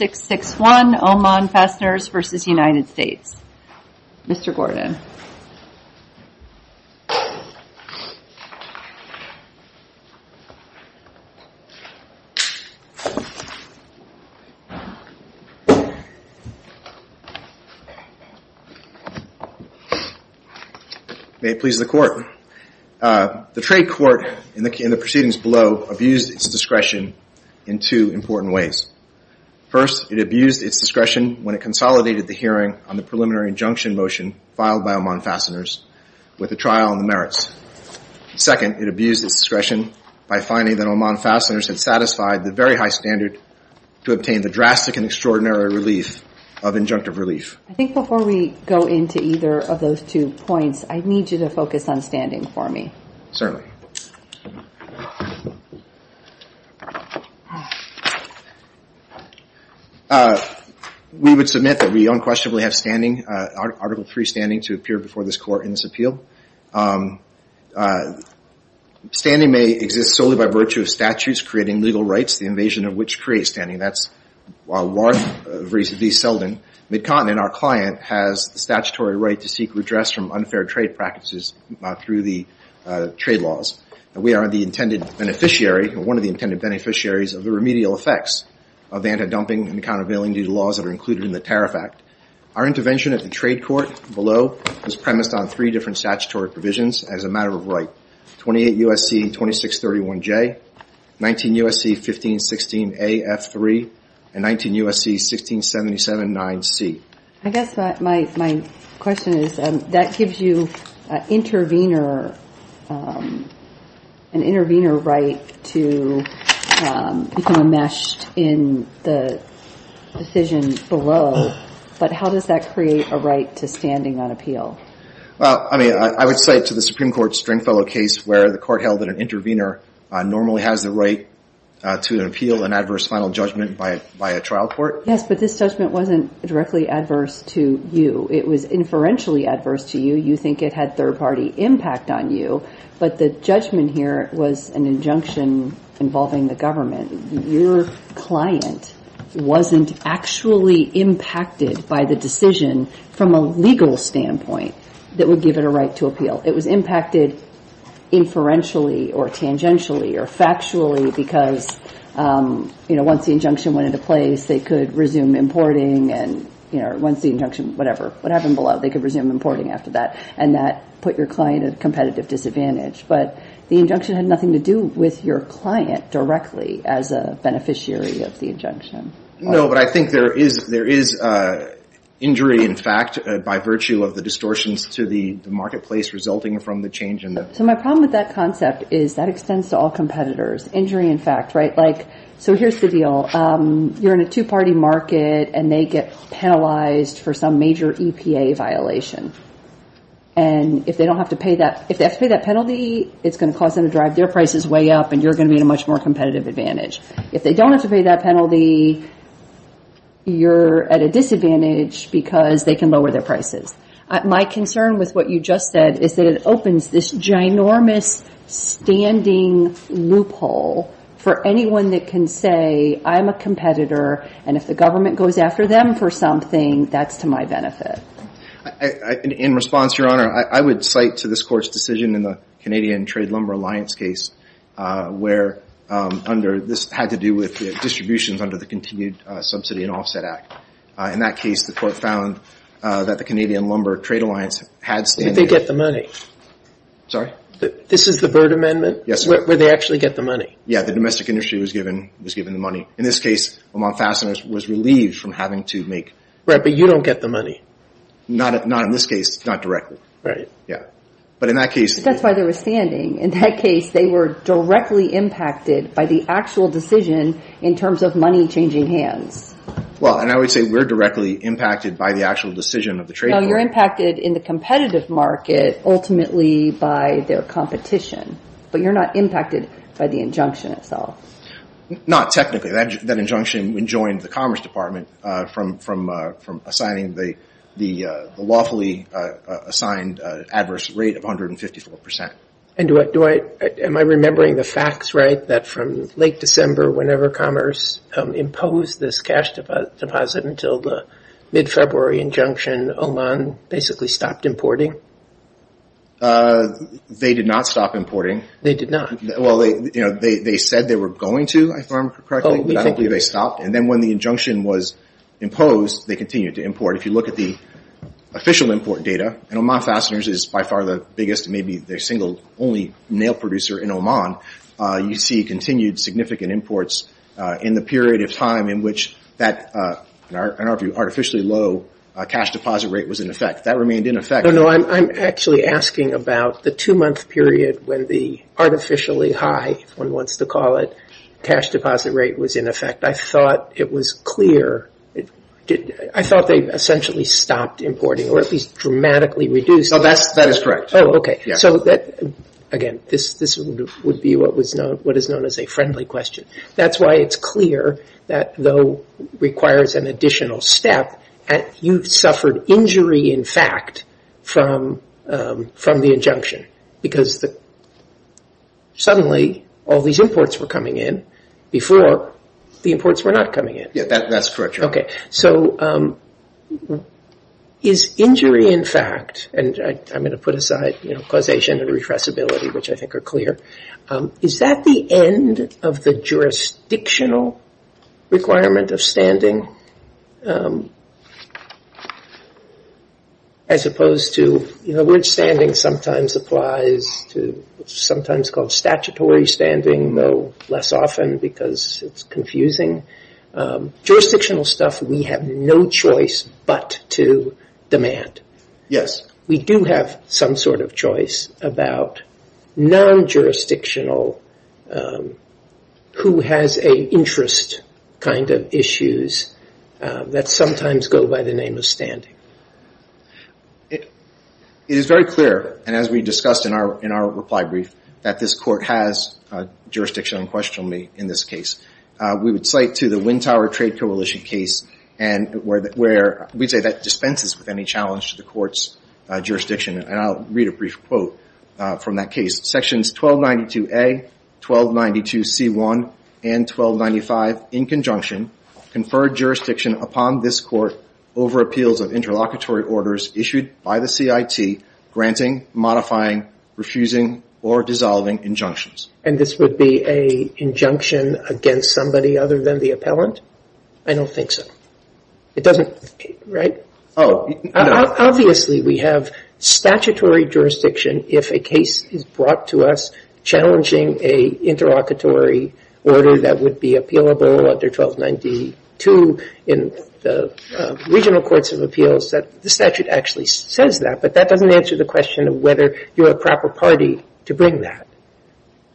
May it please the court. The trade court in the proceedings below abused its discretion in two important ways. First, it abused its discretion when it consolidated the hearing on the preliminary injunction motion filed by Oman Fasteners with a trial on the merits. Second, it abused its discretion by finding that Oman Fasteners had satisfied the very high standard to obtain the drastic and extraordinary relief of injunctive relief. I think before we go into either of those two points, I need you to focus on standing for me. Certainly. We would submit that we unquestionably have standing, Article 3 standing, to appear before this court in this appeal. Standing may exist solely by virtue of statutes creating legal rights, the invasion of which creates standing. That's, while large, at least seldom, mid-continent, our client has the statutory right to seek redress from unfair trade practices through the trade laws. We are the intended beneficiary, or one of the intended beneficiaries, of the remedial effects of anti-dumping and countervailing due to laws that are included in the Tariff Act. Our intervention at the trade court below is premised on three different statutory provisions as a matter of right. 28 U.S.C. 2631J, 19 U.S.C. 1516A.F.3, and 19 U.S.C. 16779C. I guess my question is that gives you an intervener right to become enmeshed in the decision below, but how does that create a right to standing on appeal? Well, I mean, I would say to the Supreme Court Stringfellow case where the court held that an intervener normally has the right to appeal an adverse final judgment by a trial court. Yes, but this judgment wasn't directly adverse to you. It was inferentially adverse to you. You think it had third-party impact on you, but the judgment here was an injunction involving the government. Your client wasn't actually impacted by the decision from a legal standpoint that would give it a right to appeal. It was impacted inferentially or tangentially or factually because, you know, once the injunction went into place, they could resume importing, and, you know, once the injunction, whatever, what happened below, they could resume importing after that, and that put your client at a competitive disadvantage. But the injunction had nothing to do with your client directly as a beneficiary of the injunction. No, but I think there is injury, in fact, by virtue of the distortions to the marketplace resulting from the change in the- So my problem with that concept is that extends to all competitors. Injury, in fact, right? So here's the deal. You're in a two-party market, and they get penalized for some major EPA violation. And if they don't have to pay that- if they have to pay that penalty, it's going to cause them to drive their prices way up, and you're going to be at a much more competitive advantage. If they don't have to pay that penalty, you're at a disadvantage because they can lower their prices. My concern with what you just said is that it opens this ginormous standing loophole for anyone that can say, I'm a competitor, and if the government goes after them for something, that's to my benefit. In response, Your Honor, I would cite to this Court's decision in the Canadian Trade Lumber Alliance case where under- this had to do with distributions under the Continued Subsidy and Offset Act. In that case, the Court found that the Canadian Lumber Trade Alliance had a standing- Where did they get the money? Sorry? This is the Byrd Amendment? Yes, sir. Where did they actually get the money? Yeah, the domestic industry was given the money. In this case, Montfasten was relieved from having to make- Right, but you don't get the money. Not in this case, not directly. Right. Yeah. But in that case- But that's why they were standing. In that case, they were directly impacted by the actual decision in terms of money changing hands. Well, and I would say we're directly impacted by the actual decision of the trade- No, you're impacted in the competitive market ultimately by their competition, but you're not impacted by the injunction itself. Not technically. That injunction enjoined the Commerce Department from assigning the lawfully assigned adverse rate of 154%. Am I remembering the facts right? That from late December, whenever Commerce imposed this cash deposit until the mid-February injunction, Oman basically stopped importing? They did not stop importing. They did not? Well, they said they were going to, if I remember correctly, but I don't think they stopped. And then when the injunction was imposed, they continued to import. If you look at the official import data, and Oman Fasteners is by far the biggest, maybe their single only nail producer in Oman, you see continued significant imports in the period of time in which that, in our view, artificially low cash deposit rate was in effect. That remained in effect- No, no, I'm actually asking about the two-month period when the artificially high, if one wants to call it, cash deposit rate was in effect. I thought it was clear. I thought they essentially stopped importing, or at least dramatically reduced- No, that is correct. Oh, okay. So again, this would be what is known as a friendly question. That's why it's clear that though it requires an additional step, you suffered injury in fact from the injunction because suddenly all these imports were coming in before the imports were not coming in. Yeah, that's correct. Okay, so is injury in fact, and I'm going to put aside causation and repressibility, which I think are clear, is that the end of the jurisdictional requirement of standing as opposed to... The word standing sometimes applies to sometimes called statutory standing, though less often because it's confusing. Jurisdictional stuff we have no choice but to demand. We do have some sort of choice about non-jurisdictional, who has an interest kind of issues that sometimes go by the name of standing. It is very clear, and as we discussed in our reply brief, that this court has jurisdiction unquestionably in this case. We would cite to the Wind Tower Trade Coalition case where we say that dispenses with any challenge to the court's jurisdiction, and I'll read a brief quote from that case. Sections 1292A, 1292C1, and 1295 in conjunction confer jurisdiction upon this court over appeals of interlocutory orders issued by the CIT, granting, modifying, refusing, or dissolving injunctions. And this would be an injunction against somebody other than the appellant? I don't think so. It doesn't, right? Obviously, we have statutory jurisdiction if a case is brought to us challenging a interlocutory order that would be appealable under 1292 in the regional courts of appeals. The statute actually says that, but that doesn't answer the question of whether you're a proper party to bring that.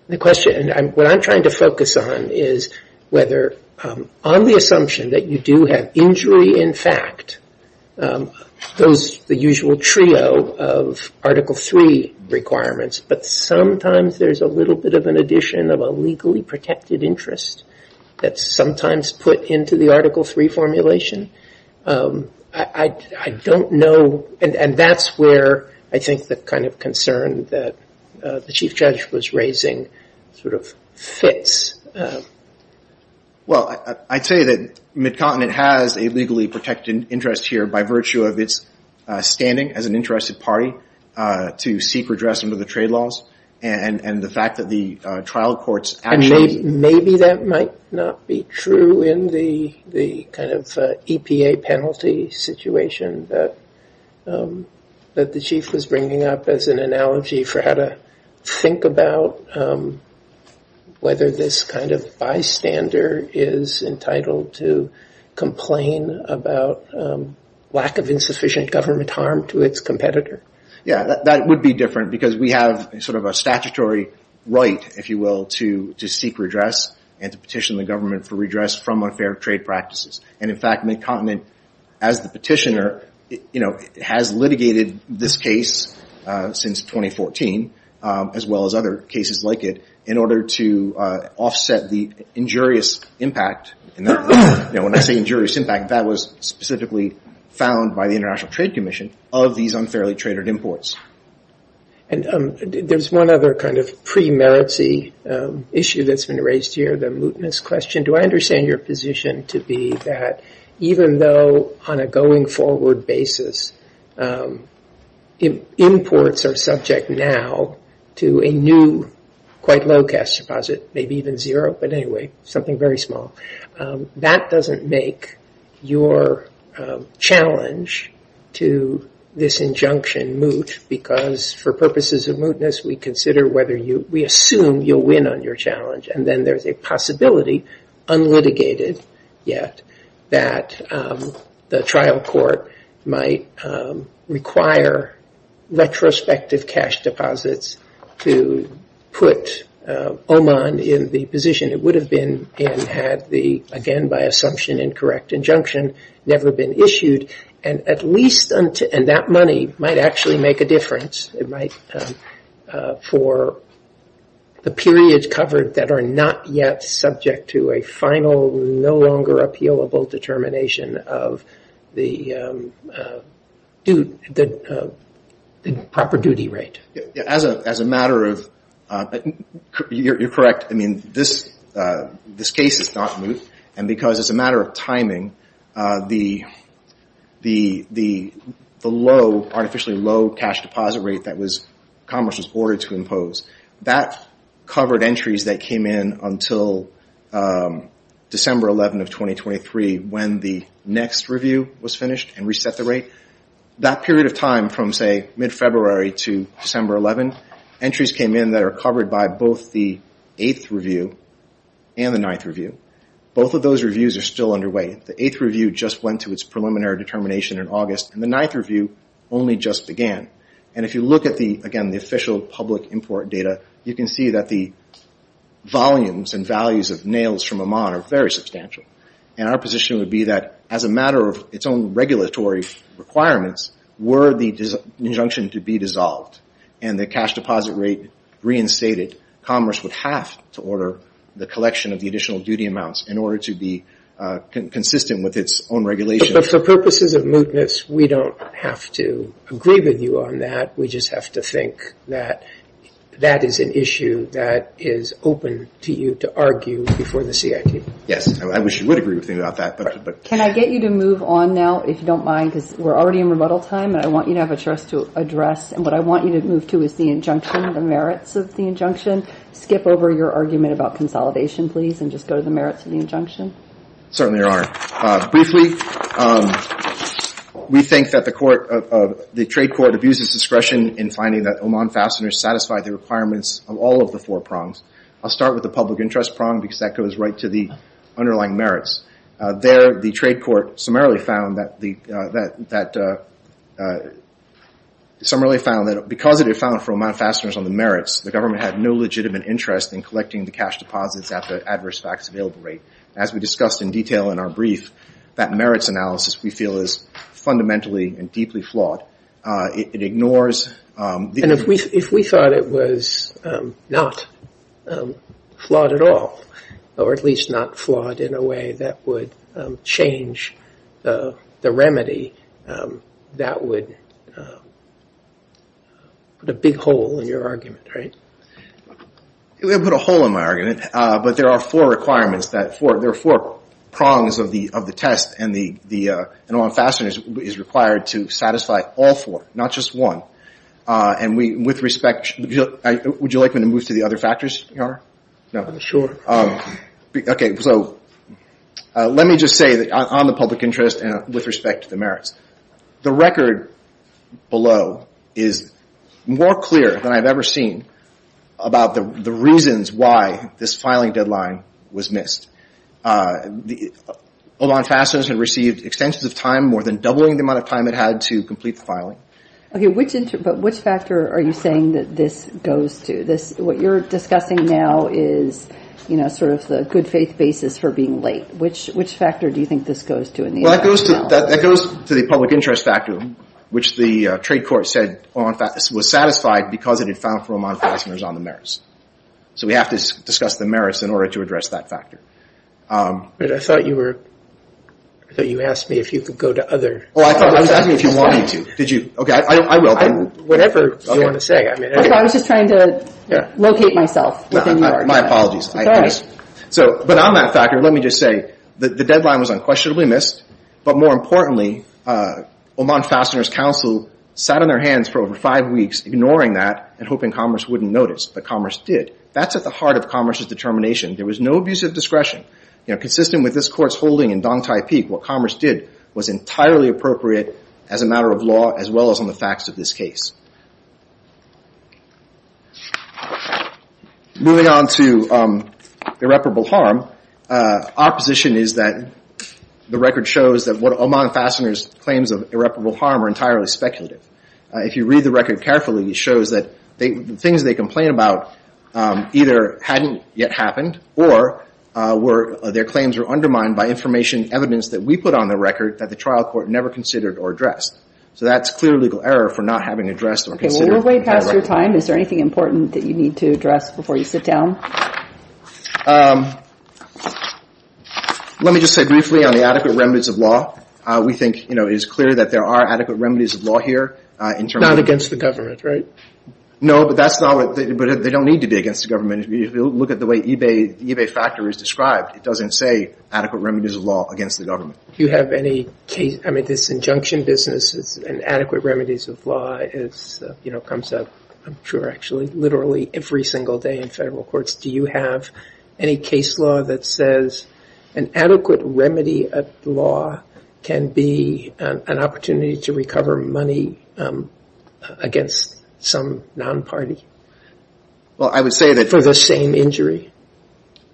The question, and what I'm trying to focus on is whether on the assumption that you do have injury in fact, those, the usual trio of Article III requirements, but sometimes there's a little bit of an addition of a legally protected interest that's sometimes put into the Article III formulation. I don't know, and that's where I think the kind of concern that the Chief Judge was raising sort of fits. Well, I'd say that Mid-Continent has a legally protected interest here by virtue of its standing as an interested party to seek redress under the trade laws, and the fact that the trial courts actually... Maybe that might not be true in the kind of EPA penalty situation that the Chief was bringing up as an analogy for how to think about whether this kind of bystander is entitled to complain about lack of insufficient government harm to its competitor. Yeah, that would be different because we have sort of a statutory right, if you will, to seek redress and to petition the government for redress from unfair trade practices, and in fact, Mid-Continent as the petitioner has litigated this case since 2014, as well as other cases like it, in order to offset the injurious impact, and when I say injurious impact, that was specifically found by the International Trade Commission of these unfairly traded imports. There's one other kind of pre-merits issue that's been raised here, the mootness question. Do I understand your position to be that even though on a going forward basis, imports are subject now to a new quite low cash deposit, maybe even zero, but anyway, something very small, that doesn't make your challenge to this injunction moot because for purposes of mootness, we consider whether you, we assume you'll win on your challenge, and then there's a possibility, unlitigated yet, that the trial court might require retrospective cash deposits to put Oman in the position it would have been in had the, again by assumption, incorrect injunction never been issued, and that money might actually make a difference for the periods covered that are not yet subject to a final, no longer appealable determination of the proper duty rate. As a matter of, you're correct, I mean, this case is not moot, and because it's a matter of timing, the low, artificially low cash deposit rate that was, commerce was ordered to impose, that covered entries that came in until December 11 of 2023 when the next review was finished and reset the rate. That period of time from say mid-February to December 11, entries came in that are covered by both the 8th review and the 9th review. Both of those reviews are still underway. The 8th review just went to its preliminary determination in August, and the 9th review only just began, and if you look at the, again, the official public import data, you can see that the volumes and values of nails from Oman are very substantial, and our position would be that as a matter of its own regulatory requirements, were the injunction to be dissolved and the cash deposit rate reinstated, commerce would have to order the collection of the additional duty amounts in order to be consistent with its own regulation. But for purposes of mootness, we don't have to agree with you on that. We just have to think that that is an issue that is open to you to argue before the CIT. Yes, I wish you would agree with me about that. Can I get you to move on now, if you don't mind, because we're already in rebuttal time, and I want you to have a choice to address, and what I want you to move to is the injunction, the merits of the injunction. Skip over your argument about consolidation, please, and just go to the merits of the injunction. Certainly, Your Honor. Briefly, we think that the court, the trade court abuses discretion in finding that Oman fasteners satisfy the requirements of all of the four prongs. I'll start with the public interest prong, because that goes right to the underlying merits. There, the trade court summarily found that because it had found for Oman fasteners on the merits, the government had no legitimate interest in collecting the cash deposits at the adverse facts available rate. As we discussed in detail in our brief, that merits analysis, we feel, is fundamentally and deeply flawed. It ignores... And if we thought it was not flawed at all, or at least not flawed in a way that would change the remedy, that would put a big hole in your argument, right? It would put a hole in my argument, but there are four requirements, there are four prongs of the test, and Oman fasteners is required to satisfy all four, not just one, and with respect... Would you like me to move to the other factors, Your Honor? No? Okay, so let me just say on the public interest and with respect to the merits. The record below is more clear than I've ever seen about the reasons why this filing deadline was missed. Oman fasteners had received extensive time, more than doubling the amount of time it had to complete the filing. Okay, but which factor are you saying that this goes to? What you're discussing now is sort of the good faith basis for being late. Which factor do you think this goes to in the end? That goes to the public interest factor, which the trade court said was satisfied because it had found for Oman fasteners on the merits. So we have to discuss the merits in order to address that factor. I thought you asked me if you could go to other factors. I was asking if you wanted to. Did you? Okay, I will. Whatever you want to say. I was just trying to locate myself. My apologies. It's all right. But on that factor, let me just say that the deadline was unquestionably missed, but more importantly, Oman fasteners counsel sat on their hands for over five weeks ignoring that and hoping commerce wouldn't notice, but commerce did. That's at the heart of commerce's determination. There was no abuse of discretion. Consistent with this court's holding in Dong Tai Peak, what commerce did was entirely appropriate as a matter of law as well as on the facts of this case. Moving on to irreparable harm, our position is that the record shows that Oman fasteners claims of irreparable harm are entirely speculative. If you read the record carefully, it shows that the things they complain about either hadn't yet happened or their claims were undermined by information evidence that we put on the record that the trial court never considered or addressed. So that's clear legal error for not having addressed or considered. Okay, we're way past your time. Is there anything important that you need to address before you sit down? Let me just say briefly on the adequate remedies of law, we think it is clear that there are adequate remedies of law here. Not against the government, right? No, but they don't need to be against the government. If you look at the way eBay Factor is described, it doesn't say adequate remedies of law against the government. Do you have any case, I mean this injunction business and adequate remedies of law comes up I'm sure actually literally every single day in federal courts. Do you have any case law that says an adequate remedy of law can be an opportunity to recover money against some non-party? Well I would say that- For the same injury?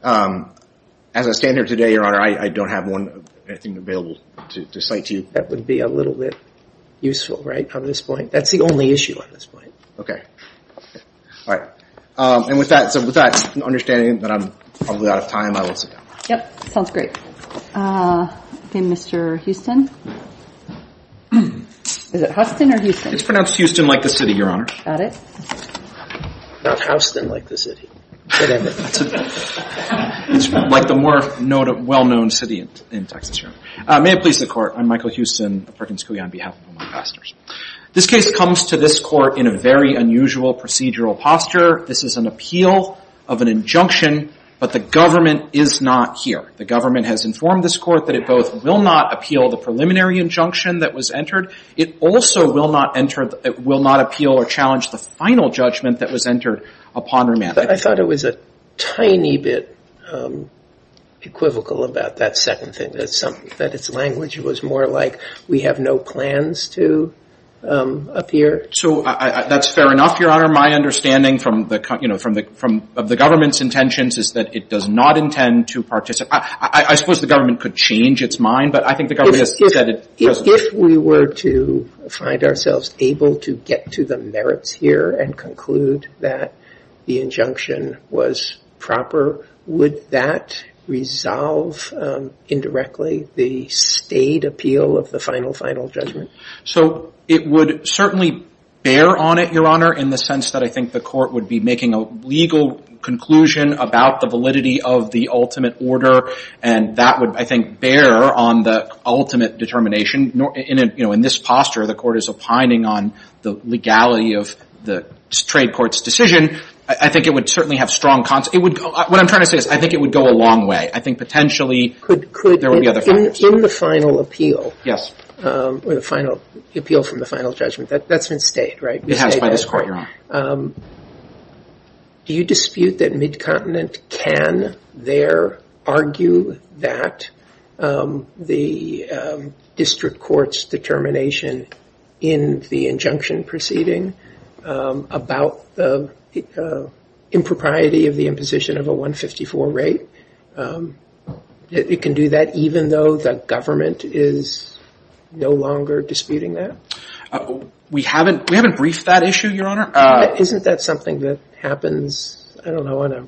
As I stand here today, your honor, I don't have anything available to cite to you. That would be a little bit useful, right, on this point. That's the only issue on this point. Okay. All right. And with that understanding that I'm probably out of time, I will sit down. Yep. Sounds great. Okay, Mr. Houston. Is it Houston or Houston? It's pronounced Houston like the city, your honor. Got it. Not Houston like the city. Whatever. It's like the more well-known city in Texas. May it please the court, I'm Michael Houston of Perkins Coulee on behalf of my pastors. This case comes to this court in a very unusual procedural posture. This is an appeal of an injunction, but the government is not here. The government has informed this court that it both will not appeal the preliminary injunction that was entered, it also will not appeal or challenge the final judgment that was entered upon remand. I thought it was a tiny bit equivocal about that second thing, that its language was more we have no plans to appear. So that's fair enough, your honor. My understanding of the government's intentions is that it does not intend to participate. I suppose the government could change its mind, but I think the government has said it doesn't. If we were to find ourselves able to get to the merits here and conclude that the injunction was proper, would that resolve indirectly the state appeal of the final, final judgment? So it would certainly bear on it, your honor, in the sense that I think the court would be making a legal conclusion about the validity of the ultimate order, and that would I think bear on the ultimate determination. In this posture, the court is opining on the legality of the trade court's decision. I think it would certainly have strong, what I'm trying to say is I think it would go a long way. I think potentially there would be other factors. In the final appeal, the appeal from the final judgment, that's been stayed, right? It has by this court, your honor. Do you dispute that Mid-Continent can there argue that the district court's determination in the injunction proceeding about the impropriety of the imposition of a 154 rate, it can do that even though the government is no longer disputing that? We haven't briefed that issue, your honor. Isn't that something that happens, I don't know, on a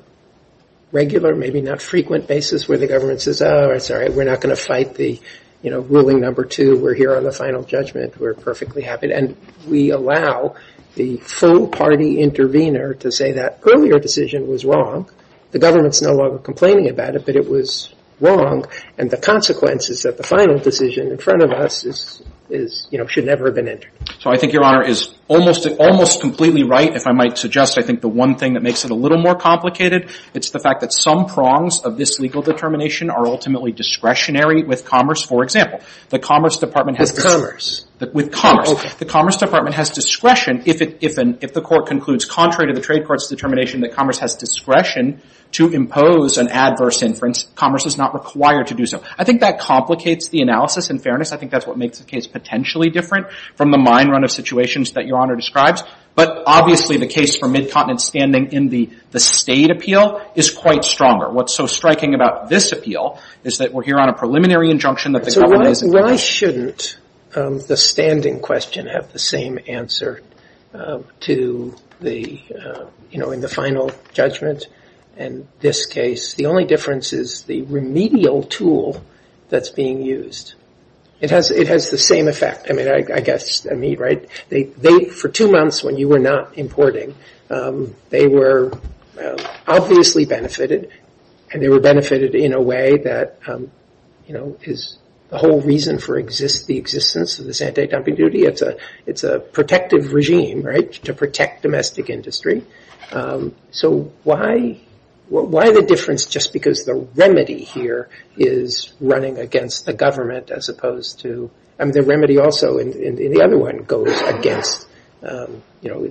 regular, maybe not frequent basis where the government says, oh, that's all right, we're not going to fight the ruling number two, we're here on the final judgment, we're perfectly happy. And we allow the full party intervener to say that earlier decision was wrong. The government's no longer complaining about it, but it was wrong. And the consequence is that the final decision in front of us is, you know, should never have been entered. So I think your honor is almost completely right if I might suggest I think the one thing that makes it a little more complicated, it's the fact that some prongs of this legal determination are ultimately discretionary with commerce. For example, the Commerce Department has discretion. With commerce. With commerce. The Commerce Department has discretion if the court concludes contrary to the trade court's determination that commerce has discretion to impose an adverse inference, commerce is not required to do so. I think that complicates the analysis, in fairness. I think that's what makes the case potentially different from the mine run of situations that your honor describes. But obviously, the case for midcontinent standing in the state appeal is quite stronger. What's so striking about this appeal is that we're here on a preliminary injunction So why shouldn't the standing question have the same answer to the, you know, in the final judgment in this case? The only difference is the remedial tool that's being used. It has the same effect. I mean, I guess, I mean, right? For two months when you were not importing, they were obviously benefited, and they were The whole reason for the existence of this anti-dumping duty, it's a protective regime, right? To protect domestic industry. So why the difference just because the remedy here is running against the government as opposed to, I mean, the remedy also in the other one goes against, you know,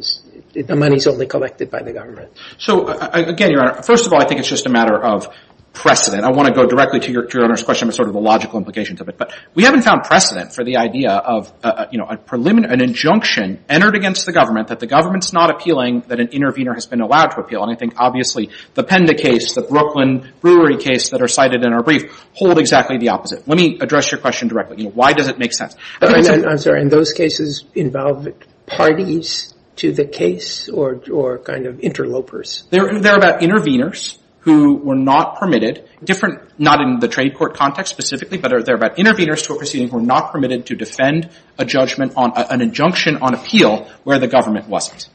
the money's only collected by the government. So again, your honor, first of all, I think it's just a matter of precedent. I want to go directly to your question, sort of the logical implications of it. But we haven't found precedent for the idea of, you know, a preliminary, an injunction entered against the government that the government's not appealing, that an intervener has been allowed to appeal. And I think, obviously, the Penda case, the Brooklyn brewery case that are cited in our brief hold exactly the opposite. Let me address your question directly. You know, why does it make sense? I'm sorry, and those cases involve parties to the case or kind of interlopers? They're about interveners who were not permitted, different, not in the trade court context specifically, but they're about interveners to a proceeding who were not permitted to defend a judgment on an injunction on appeal where the government wasn't.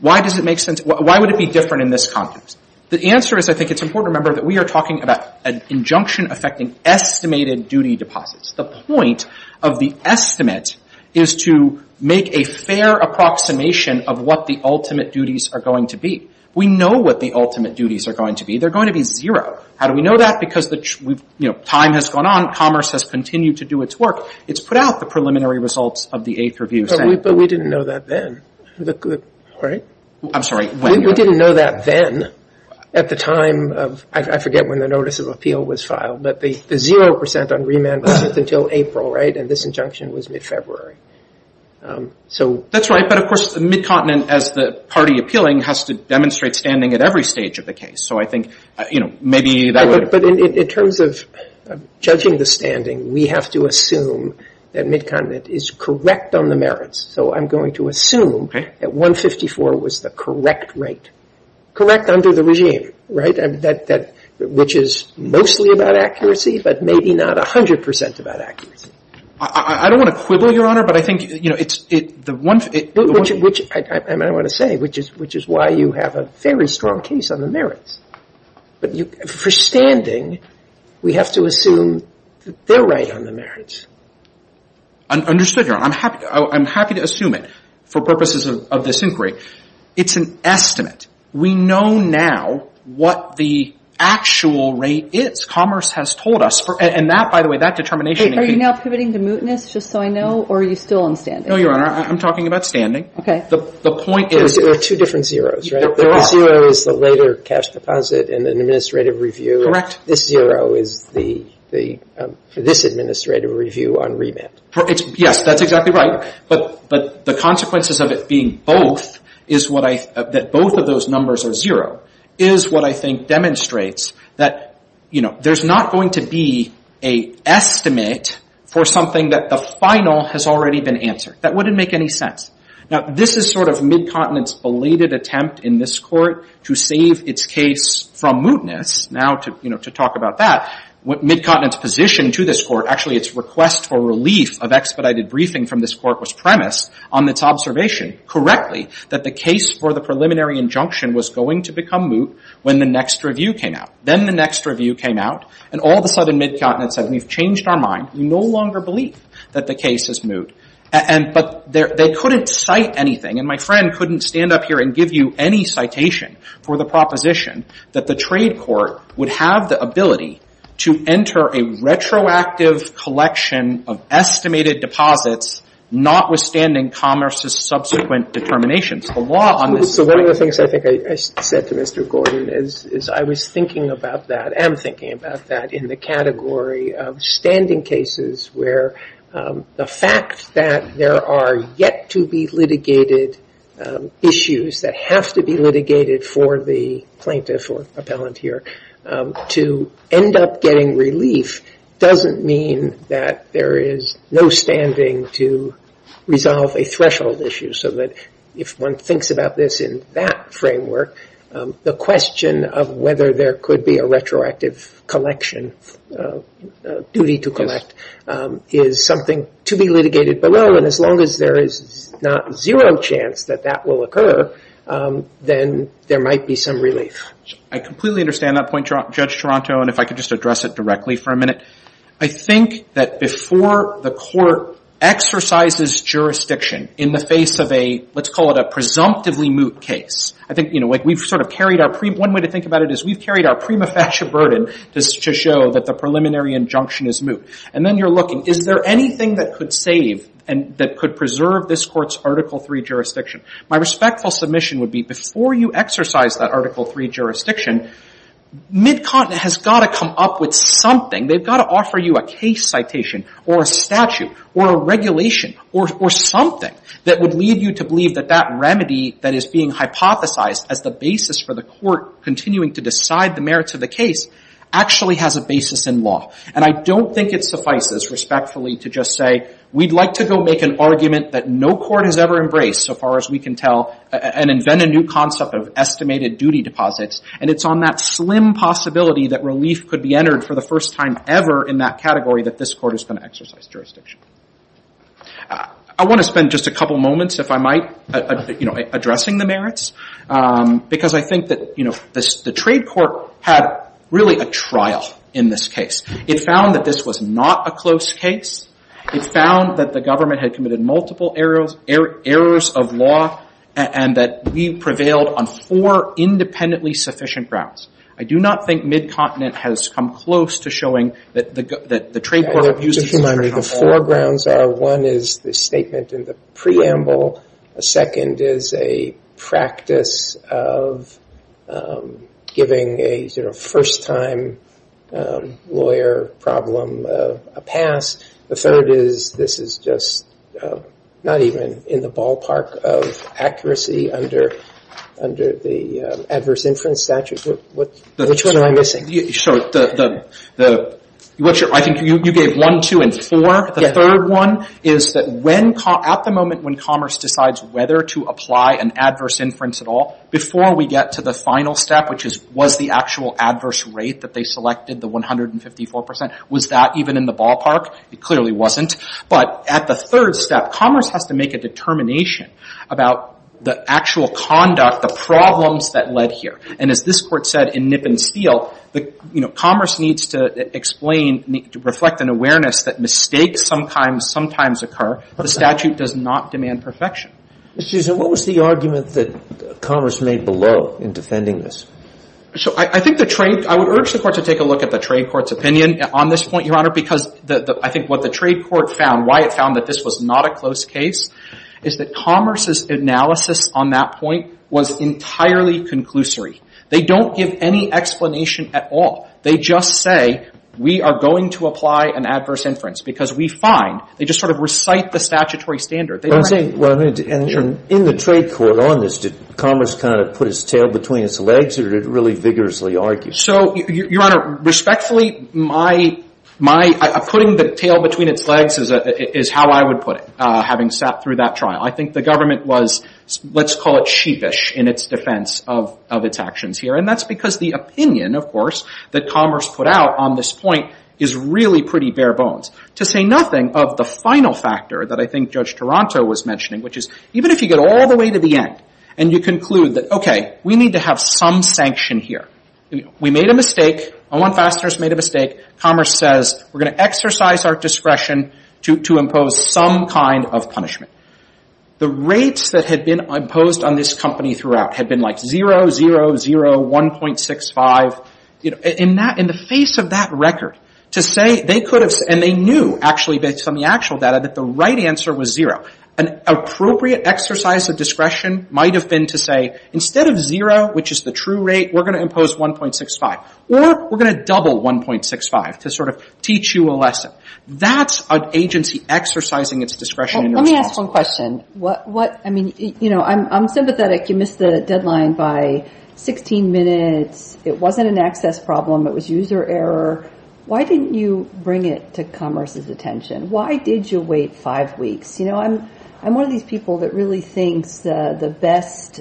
Why does it make sense? Why would it be different in this context? The answer is, I think it's important to remember that we are talking about an injunction affecting estimated duty deposits. The point of the estimate is to make a fair approximation of what the ultimate duties are going to be. We know what the ultimate duties are going to be. They're going to be zero. How do we know that? Because, you know, time has gone on. Commerce has continued to do its work. It's put out the preliminary results of the Eighth Review. But we didn't know that then, right? I'm sorry, when? We didn't know that then at the time of, I forget when the notice of appeal was filed, but the zero percent on remand was until April, right? And this injunction was mid-February. So... That's right. But of course, the Mid-Continent, as the party appealing, has to demonstrate standing at every stage of the case. So I think, you know, maybe that would... But in terms of judging the standing, we have to assume that Mid-Continent is correct on the merits. So I'm going to assume that 154 was the correct rate, correct under the regime, right, which is mostly about accuracy, but maybe not 100 percent about accuracy. I don't want to quibble, Your Honor, but I think, you know, it's... Which I want to say, which is why you have a very strong case on the merits. But for standing, we have to assume that they're right on the merits. Understood, Your Honor. I'm happy to assume it for purposes of this inquiry. It's an estimate. We know now what the actual rate is. Commerce has told us, and that, by the way, that determination... Are you now pivoting to mootness, just so I know, or are you still on standing? No, Your Honor, I'm talking about standing. Okay. The point is... There are two different zeroes, right? The zero is the later cash deposit in an administrative review. This zero is for this administrative review on remit. Yes, that's exactly right. But the consequences of it being both is what I... That both of those numbers are zero is what I think demonstrates that, you know, there's not going to be a estimate for something that the final has already been answered. That wouldn't make any sense. Now, this is sort of Midcontinent's belated attempt in this court to save its case from mootness. Now, you know, to talk about that, what Midcontinent's position to this court, actually its request for relief of expedited briefing from this court was premised on its observation, correctly, that the case for the preliminary injunction was going to become moot when the next review came out. Then the next review came out, and all of a sudden Midcontinent said, we've changed our mind. We no longer believe that the case is moot. But they couldn't cite anything. And my friend couldn't stand up here and give you any citation for the proposition that the trade court would have the ability to enter a retroactive collection of estimated deposits notwithstanding commerce's subsequent determinations. The law on this... So one of the things I think I said to Mr. Gordon is I was thinking about that, am thinking about that in the category of standing cases where the fact that there are yet to be litigated issues that have to be litigated for the plaintiff or appellant here to end up getting relief doesn't mean that there is no standing to resolve a threshold issue so that if one thinks about this in that framework, the question of whether there could be a retroactive collection, a duty to collect, is something to be litigated. But as long as there is not zero chance that that will occur, then there might be some relief. I completely understand that point, Judge Toronto, and if I could just address it directly for a minute. I think that before the court exercises jurisdiction in the face of a, let's call it a presumptively moot case. I think we've sort of carried our... One way to think about it is we've carried our prima facie burden to show that the preliminary injunction is moot. And then you're looking, is there anything that could save and that could preserve this court's Article III jurisdiction? My respectful submission would be before you exercise that Article III jurisdiction, Midcontinent has got to come up with something. They've got to offer you a case citation or a statute or a regulation or something that would lead you to believe that that remedy that is being hypothesized as the basis for the court continuing to decide the merits of the case actually has a basis in law. And I don't think it suffices respectfully to just say, we'd like to go make an argument that no court has ever embraced so far as we can tell and invent a new concept of estimated duty deposits. And it's on that slim possibility that relief could be entered for the first time ever in that category that this court is going to exercise jurisdiction. I want to spend just a couple moments, if I might, you know, addressing the merits. Because I think that, you know, the trade court had really a trial in this case. It found that this was not a close case. It found that the government had committed multiple errors of law and that we prevailed on four independently sufficient grounds. I do not think Midcontinent has come close to showing that the trade court used as a humanitarian platform. The four grounds are one is the statement in the preamble. A second is a practice of giving a sort of first-time lawyer problem a pass. The third is this is just not even in the ballpark of accuracy under the adverse inference statute. Which one am I missing? I think you gave one, two, and four. The third one is that at the moment when Commerce decides whether to apply an adverse inference at all, before we get to the final step, which is was the actual adverse rate that they selected, the 154%, was that even in the ballpark? It clearly wasn't. But at the third step, Commerce has to make a determination about the actual conduct, the problems that led here. And as this Court said in Nip and Steal, Commerce needs to explain, to reflect an awareness that mistakes sometimes occur. The statute does not demand perfection. Mr. Chisholm, what was the argument that Commerce made below in defending this? I would urge the Court to take a look at the trade court's opinion on this point, Your Honor, because I think what the trade court found, why it found that this was not a close case, is that Commerce's analysis on that point was entirely conclusory. They don't give any explanation at all. They just say, we are going to apply an adverse inference because we find, they just sort of recite the statutory standard. They don't say, well, in the trade court on this, did Commerce kind of put its tail between its legs, or did it really vigorously argue? So, Your Honor, respectfully, putting the tail between its legs is how I would put it, having sat through that trial. I think the government was, let's call it sheepish in its defense of its actions here. And that's because the opinion, of course, that Commerce put out on this point is really pretty bare bones. To say nothing of the final factor that I think Judge Taranto was mentioning, which is, even if you get all the way to the end and you conclude that, okay, we need to have some sanction here. We made a mistake, Owen Fassner's made a mistake, Commerce says, we're going to exercise our discretion to impose some kind of punishment. The rates that had been imposed on this company throughout had been like 0, 0, 0, 1.65. In the face of that record, to say they could have, and they knew, actually based on the actual data, that the right answer was 0. An appropriate exercise of discretion might have been to say, instead of 0, which is the true rate, we're going to impose 1.65, or we're going to double 1.65 to sort of teach you a lesson. That's an agency exercising its discretion. Let me ask one question. What, I mean, you know, I'm sympathetic. You missed the deadline by 16 minutes. It wasn't an access problem. It was user error. Why didn't you bring it to Commerce's attention? Why did you wait five weeks? You know, I'm one of these people that really thinks the best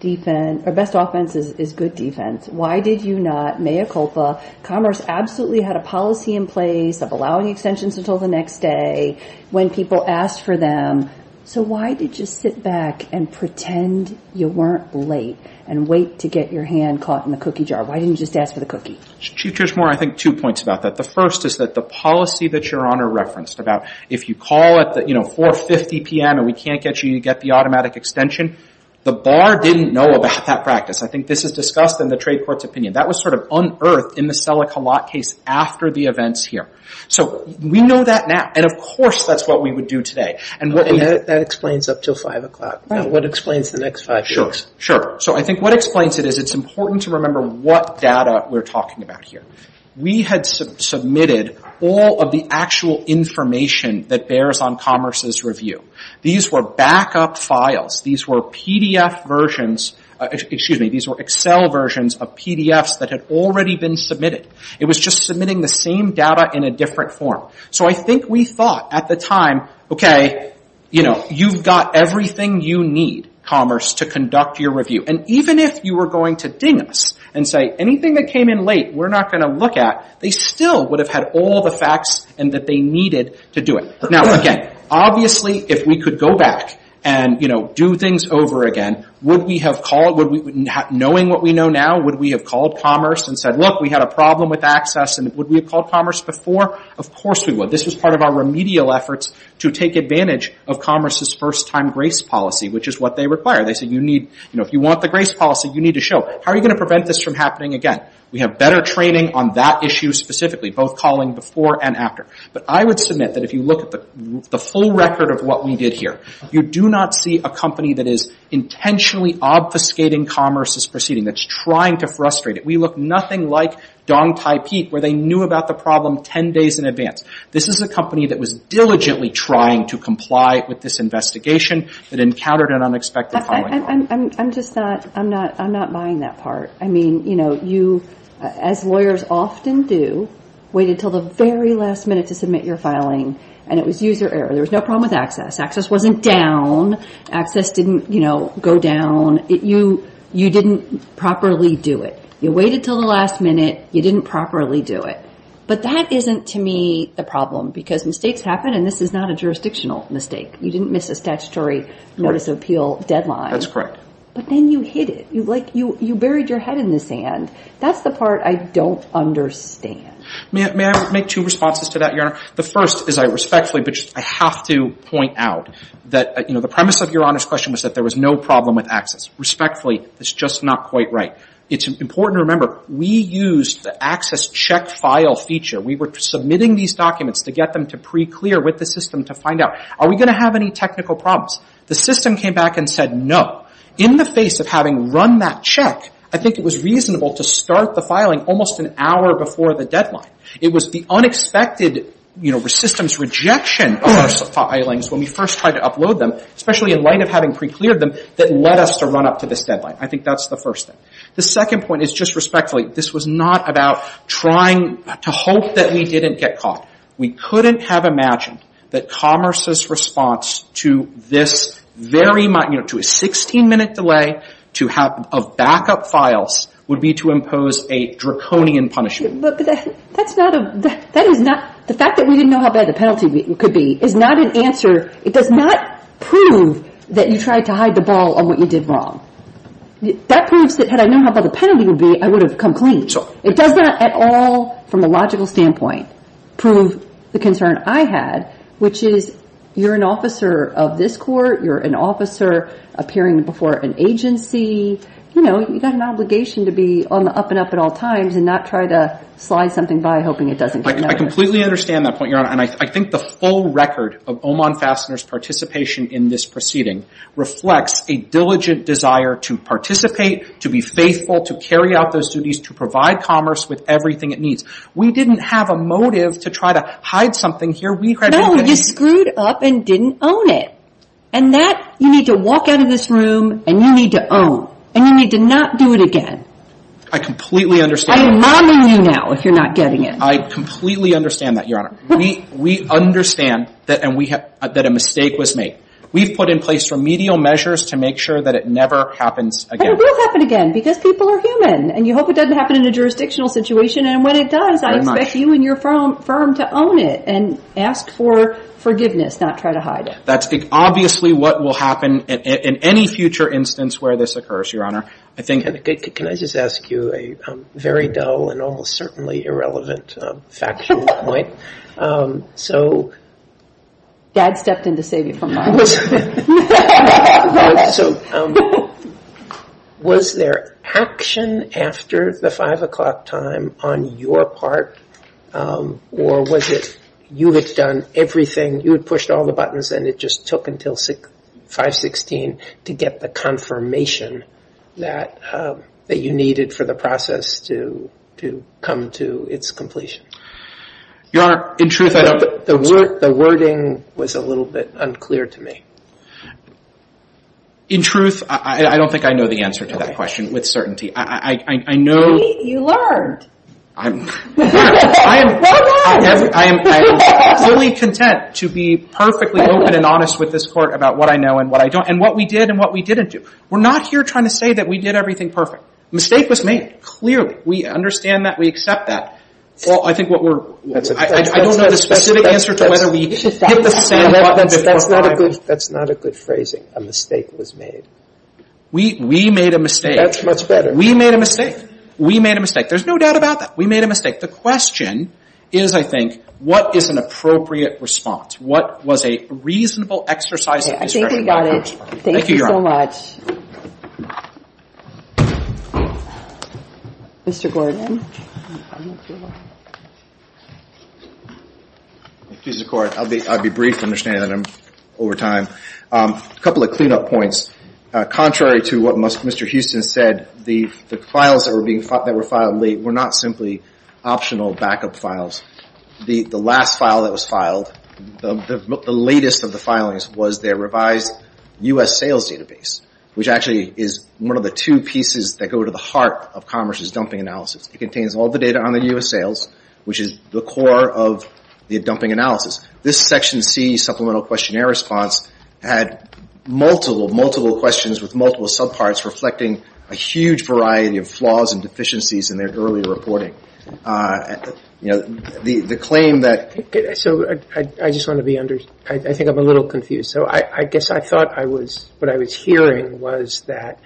defense, or best offense is good defense. Why did you not, mea culpa? Commerce absolutely had a policy in place of allowing extensions until the next day when people asked for them. So why did you sit back and pretend you weren't late and wait to get your hand caught in the cookie jar? Why didn't you just ask for the cookie? Chief Judge Moore, I think two points about that. The first is that the policy that Your Honor referenced about if you call at the, you know, 4.50 p.m. and we can't get you to get the automatic extension, the bar didn't know about that practice. I think this is discussed in the trade court's opinion. That was sort of unearthed in the Selleck-Hallott case after the events here. So we know that now. And of course that's what we would do today. And what we... And that explains up until 5 o'clock. What explains the next five weeks? Sure. Sure. So I think what explains it is it's important to remember what data we're talking about here. We had submitted all of the actual information that bears on Commerce's review. These were backup files. These were PDF versions. Excuse me. These were Excel versions of PDFs that had already been submitted. It was just submitting the same data in a different form. So I think we thought at the time, okay, you know, you've got everything you need, Commerce, to conduct your review. And even if you were going to ding us and say, anything that came in late we're not going to look at, they still would have had all the facts and that they needed to do it. Now, again, obviously if we could go back and, you know, do things over again, would we have called... Knowing what we know now, would we have called Commerce and said, look, we had a problem with access and would we have called Commerce before? Of course we would. This was part of our remedial efforts to take advantage of Commerce's first time grace policy, which is what they require. They said, you know, if you want the grace policy, you need to show. How are you going to prevent this from happening again? We have better training on that issue specifically, both calling before and after. But I would submit that if you look at the full record of what we did here, you do not see a company that is intentionally obfuscating Commerce's proceeding, that's trying to frustrate it. We look nothing like Dong Tai Peek, where they knew about the problem 10 days in advance. This is a company that was diligently trying to comply with this investigation, that encountered an unexpected calling. I'm just not, I'm not, I'm not buying that part. I mean, you know, you, as lawyers often do, wait until the very last minute to submit your filing and it was user error. There was no problem with access. Access wasn't down. Access didn't, you know, go down. You, you didn't properly do it. You waited until the last minute. You didn't properly do it. But that isn't, to me, the problem because mistakes happen and this is not a jurisdictional mistake. You didn't miss a statutory notice of appeal deadline. That's correct. But then you hid it. You like, you, you buried your head in the sand. That's the part I don't understand. May I, may I make two responses to that, Your Honor? The first is I respectfully, but I have to point out that, you know, the premise of Your Honor's question was that there was no problem with access. Respectfully, it's just not quite right. It's important to remember, we used the access check file feature. We were submitting these documents to get them to pre-clear with the system to find out, are we going to have any technical problems? The system came back and said no. In the face of having run that check, I think it was reasonable to start the filing almost an hour before the deadline. It was the unexpected, you know, system's rejection of our filings when we first tried to upload them, especially in light of having pre-cleared them, that led us to run up to this deadline. I think that's the first thing. The second point is just respectfully, this was not about trying to hope that we didn't get caught. We couldn't have imagined that Commerce's response to this very, you know, to a 16-minute delay to have backup files would be to impose a draconian punishment. That's not a, that is not, the fact that we didn't know how bad the penalty could be is not an answer. It does not prove that you tried to hide the ball on what you did wrong. That proves that had I known how bad the penalty would be, I would have come clean. It does not at all, from a logical standpoint, prove the concern I had, which is you're an officer of this court, you're an officer appearing before an agency, you know, you've got an obligation to be on the up and up at all times and not try to slide something by hoping it doesn't get noticed. I completely understand that point, Your Honor, and I think the full record of Oman Fastener's participation in this proceeding reflects a diligent desire to participate, to be faithful, to carry out those duties, to provide Commerce with everything it needs. We didn't have a motive to try to hide something here. No, you screwed up and didn't own it. And that, you need to walk out of this room and you need to own, and you need to not do it again. I completely understand. I'm mommying you now if you're not getting it. I completely understand that, Your Honor. We understand that a mistake was made. We've put in place remedial measures to make sure that it never happens again. And it will happen again, because people are human, and you hope it doesn't happen in a jurisdictional situation, and when it does, I expect you and your firm to own it and ask for forgiveness, not try to hide it. That's obviously what will happen in any future instance where this occurs, Your Honor. Can I just ask you a very dull and almost certainly irrelevant factual point? Dad stepped in to save you from mommy. Was there action after the 5 o'clock time on your part, or was it you had done everything, you had pushed all the buttons and it just took until 5.16 to get the confirmation that you needed for the process to come to its completion? Your Honor, in truth, I don't think so. The wording was a little bit unclear to me. In truth, I don't think I know the answer to that question with certainty. I know. You learned. I'm, Your Honor, I am absolutely content to be perfectly open and honest with this Court about what I know and what I don't, and what we did and what we didn't do. We're not here trying to say that we did everything perfect. Mistake was made, clearly. We understand that. We accept that. Well, I think what we're – I don't know the specific answer to whether we hit the sandbox at the wrong time. That's not a good phrasing. A mistake was made. We made a mistake. That's much better. We made a mistake. We made a mistake. There's no doubt about that. We made a mistake. The question is, I think, what is an appropriate response? What was a reasonable exercise of discretion? I think we got it. Thank you, Your Honor. Thank you so much. Mr. Gordon. Excuse the Court. I'll be brief. I understand that I'm over time. A couple of cleanup points. Contrary to what Mr. Houston said, the files that were filed late were not simply optional backup files. The last file that was filed, the latest of the filings, was their revised U.S. sales database, which actually is one of the two pieces that go to the heart of Commerce's dumping analysis. It contains all the data on the U.S. sales, which is the core of the dumping analysis. This Section C supplemental questionnaire response had multiple, multiple questions with multiple subparts reflecting a huge variety of flaws and deficiencies in their early reporting. The claim that... I just want to be understood. I think I'm a little confused. I guess I thought what I was hearing was that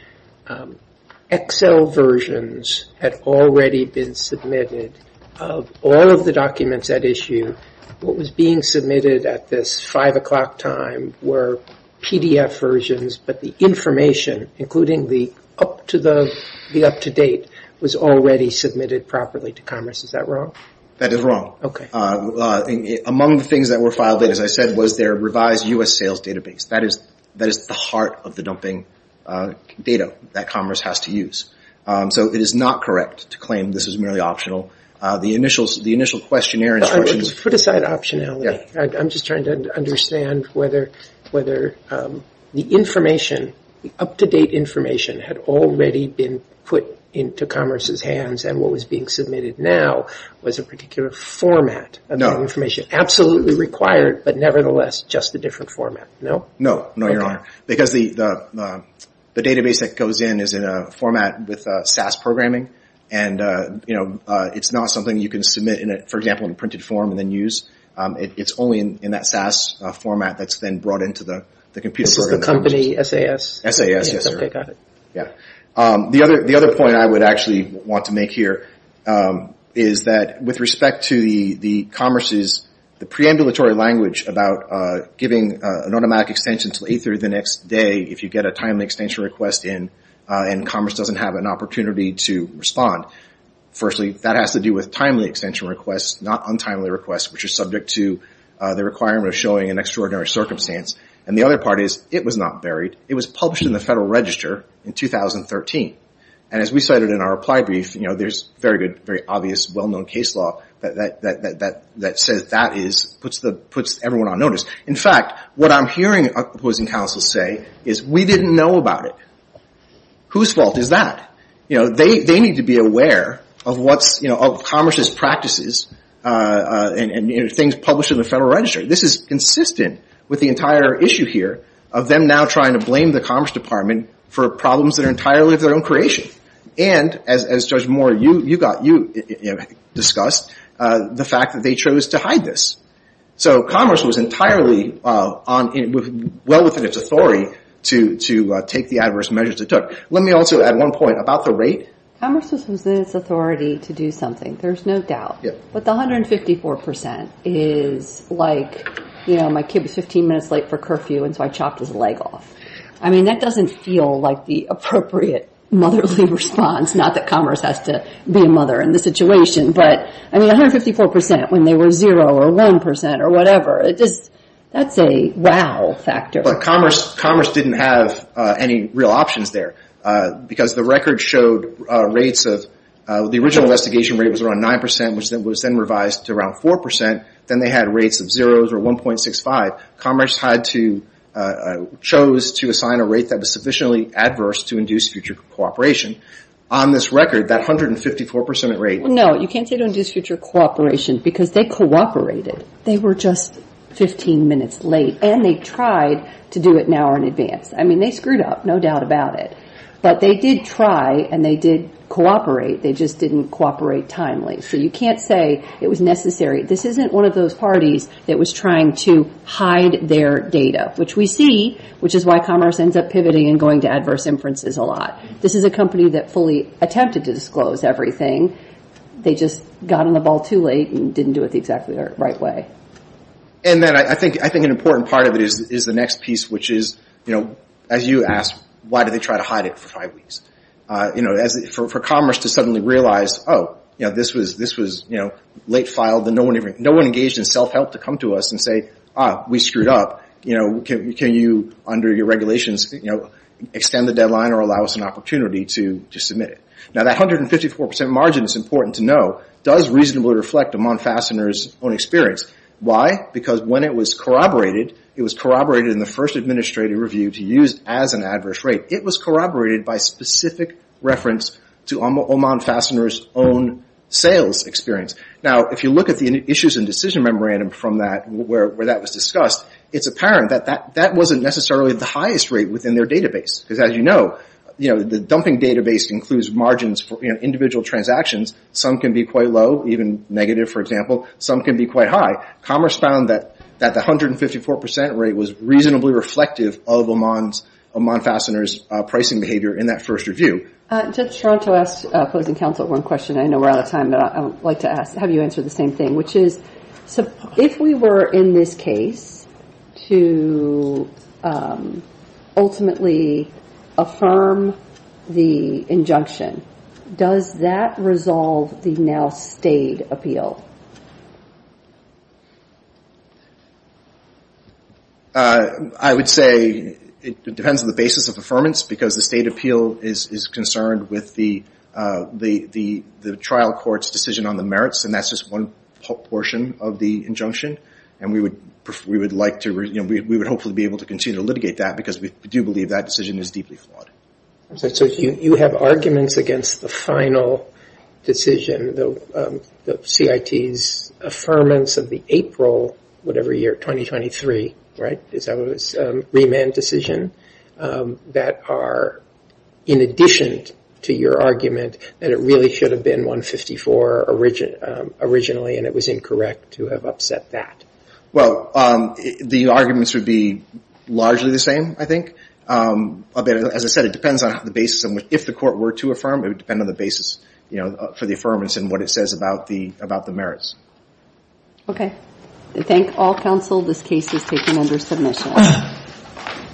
Excel versions had already been submitted of all of the documents at issue. What was being submitted at this 5 o'clock time were PDF versions, but the information, including the up-to-date, was already submitted properly to Is that wrong? That is wrong. Among the things that were filed, as I said, was their revised U.S. sales database. That is the heart of the dumping data that Commerce has to use, so it is not correct to claim this is merely optional. The initial questionnaire... Put aside optionality. Yeah. I'm just trying to understand whether the information, the up-to-date information, had already been put into Commerce's hands and what was being submitted now was a particular format of information. Absolutely required, but nevertheless just a different format. No. No, Your Honor. Because the database that goes in is in a format with SAS programming, and it's not something you can submit, for example, in a printed form and then use. It's only in that SAS format that's then brought into the computer program. This is the company, SAS? SAS. Yes, Your Honor. Okay. Got it. Yeah. The other point I would actually want to make here is that, with respect to Commerce's, the preambulatory language about giving an automatic extension until 8-3 the next day if you get a timely extension request in, and Commerce doesn't have an opportunity to respond. Firstly, that has to do with timely extension requests, not untimely requests, which are subject to the requirement of showing an extraordinary circumstance. And the other part is, it was not buried. It was published in the Federal Register in 2013. And as we cited in our reply brief, there's very good, very obvious, well- known case law that says that puts everyone on notice. In fact, what I'm hearing opposing counsels say is, we didn't know about it. Whose fault is that? They need to be aware of Commerce's practices and things published in the Federal Register. This is consistent with the entire issue here of them now trying to blame the Commerce Department for problems that are entirely of their own And, as Judge Moore, you discussed, the fact that they chose to hide this. So Commerce was entirely well within its authority to take the adverse measures it took. Let me also add one point about the rate. Commerce was within its authority to do something. There's no doubt. But the 154% is like, you know, my kid was 15 minutes late for curfew and so I chopped his leg off. I mean, that doesn't feel like the appropriate motherly response. Not that Commerce has to be a mother in this situation. But, I mean, 154% when they were zero or 1% or whatever. That's a wow factor. But Commerce didn't have any real options there. Because the record showed rates of, the original investigation rate was around 9%, which was then revised to around 4%. Then they had rates of zeroes or 1.65. Commerce had to, chose to assign a rate that was sufficiently adverse to induce future cooperation. On this record, that 154% rate. No, you can't say to induce future cooperation because they cooperated. They were just 15 minutes late. And they tried to do it an hour in advance. I mean, they screwed up, no doubt about it. But they did try and they did cooperate. They just didn't cooperate timely. So you can't say it was necessary. This isn't one of those parties that was trying to hide their data, which we see, which is why Commerce ends up pivoting and going to adverse inferences a lot. This is a company that fully attempted to disclose everything. They just got on the ball too late and didn't do it the exactly right way. And then I think an important part of it is the next piece, which is, as you asked, why did they try to hide it for five weeks? For Commerce to suddenly realize, oh, this was late filed. No one engaged in self-help to come to us and say, ah, we screwed up. Can you, under your regulations, extend the deadline or allow us an opportunity to submit it? Now that 154% margin, it's important to know, does reasonably reflect Oman Fastener's own experience. Why? Because when it was corroborated, it was corroborated in the first administrative review to use as an adverse rate. It was corroborated by specific reference to Oman Fastener's own sales experience. Now, if you look at the issues and decision memorandum from that, where that was discussed, it's apparent that that wasn't necessarily the highest rate within their database. Because as you know, the dumping database includes margins for individual transactions. Some can be quite low, even negative, for example. Some can be quite high. Commerce found that the 154% rate was reasonably reflective of Oman Fastener's pricing behavior in that first review. Judge Toronto asked opposing counsel one question. I know we're out of time, but I would like to ask. Have you answered the same thing? Which is, if we were in this case to ultimately affirm the injunction, does that resolve the now state appeal? I would say it depends on the basis of affirmance, because the state appeal is concerned with the trial court's decision on the merits, and that's just one portion of the injunction. And we would like to, we would hopefully be able to continue to litigate that, because we do believe that decision is deeply flawed. So you have arguments against the final decision, the CIT's affirmance of the April, whatever year, 2023, right? Remand decision, that are in addition to your argument that it really should have been 154 originally, and it was incorrect to have upset that. Well, the arguments would be largely the same, I think. But as I said, it depends on the basis of, if the court were to affirm, it would depend on the basis for the affirmance and what it says about the merits. Okay. I thank all counsel. This case is taken under submission.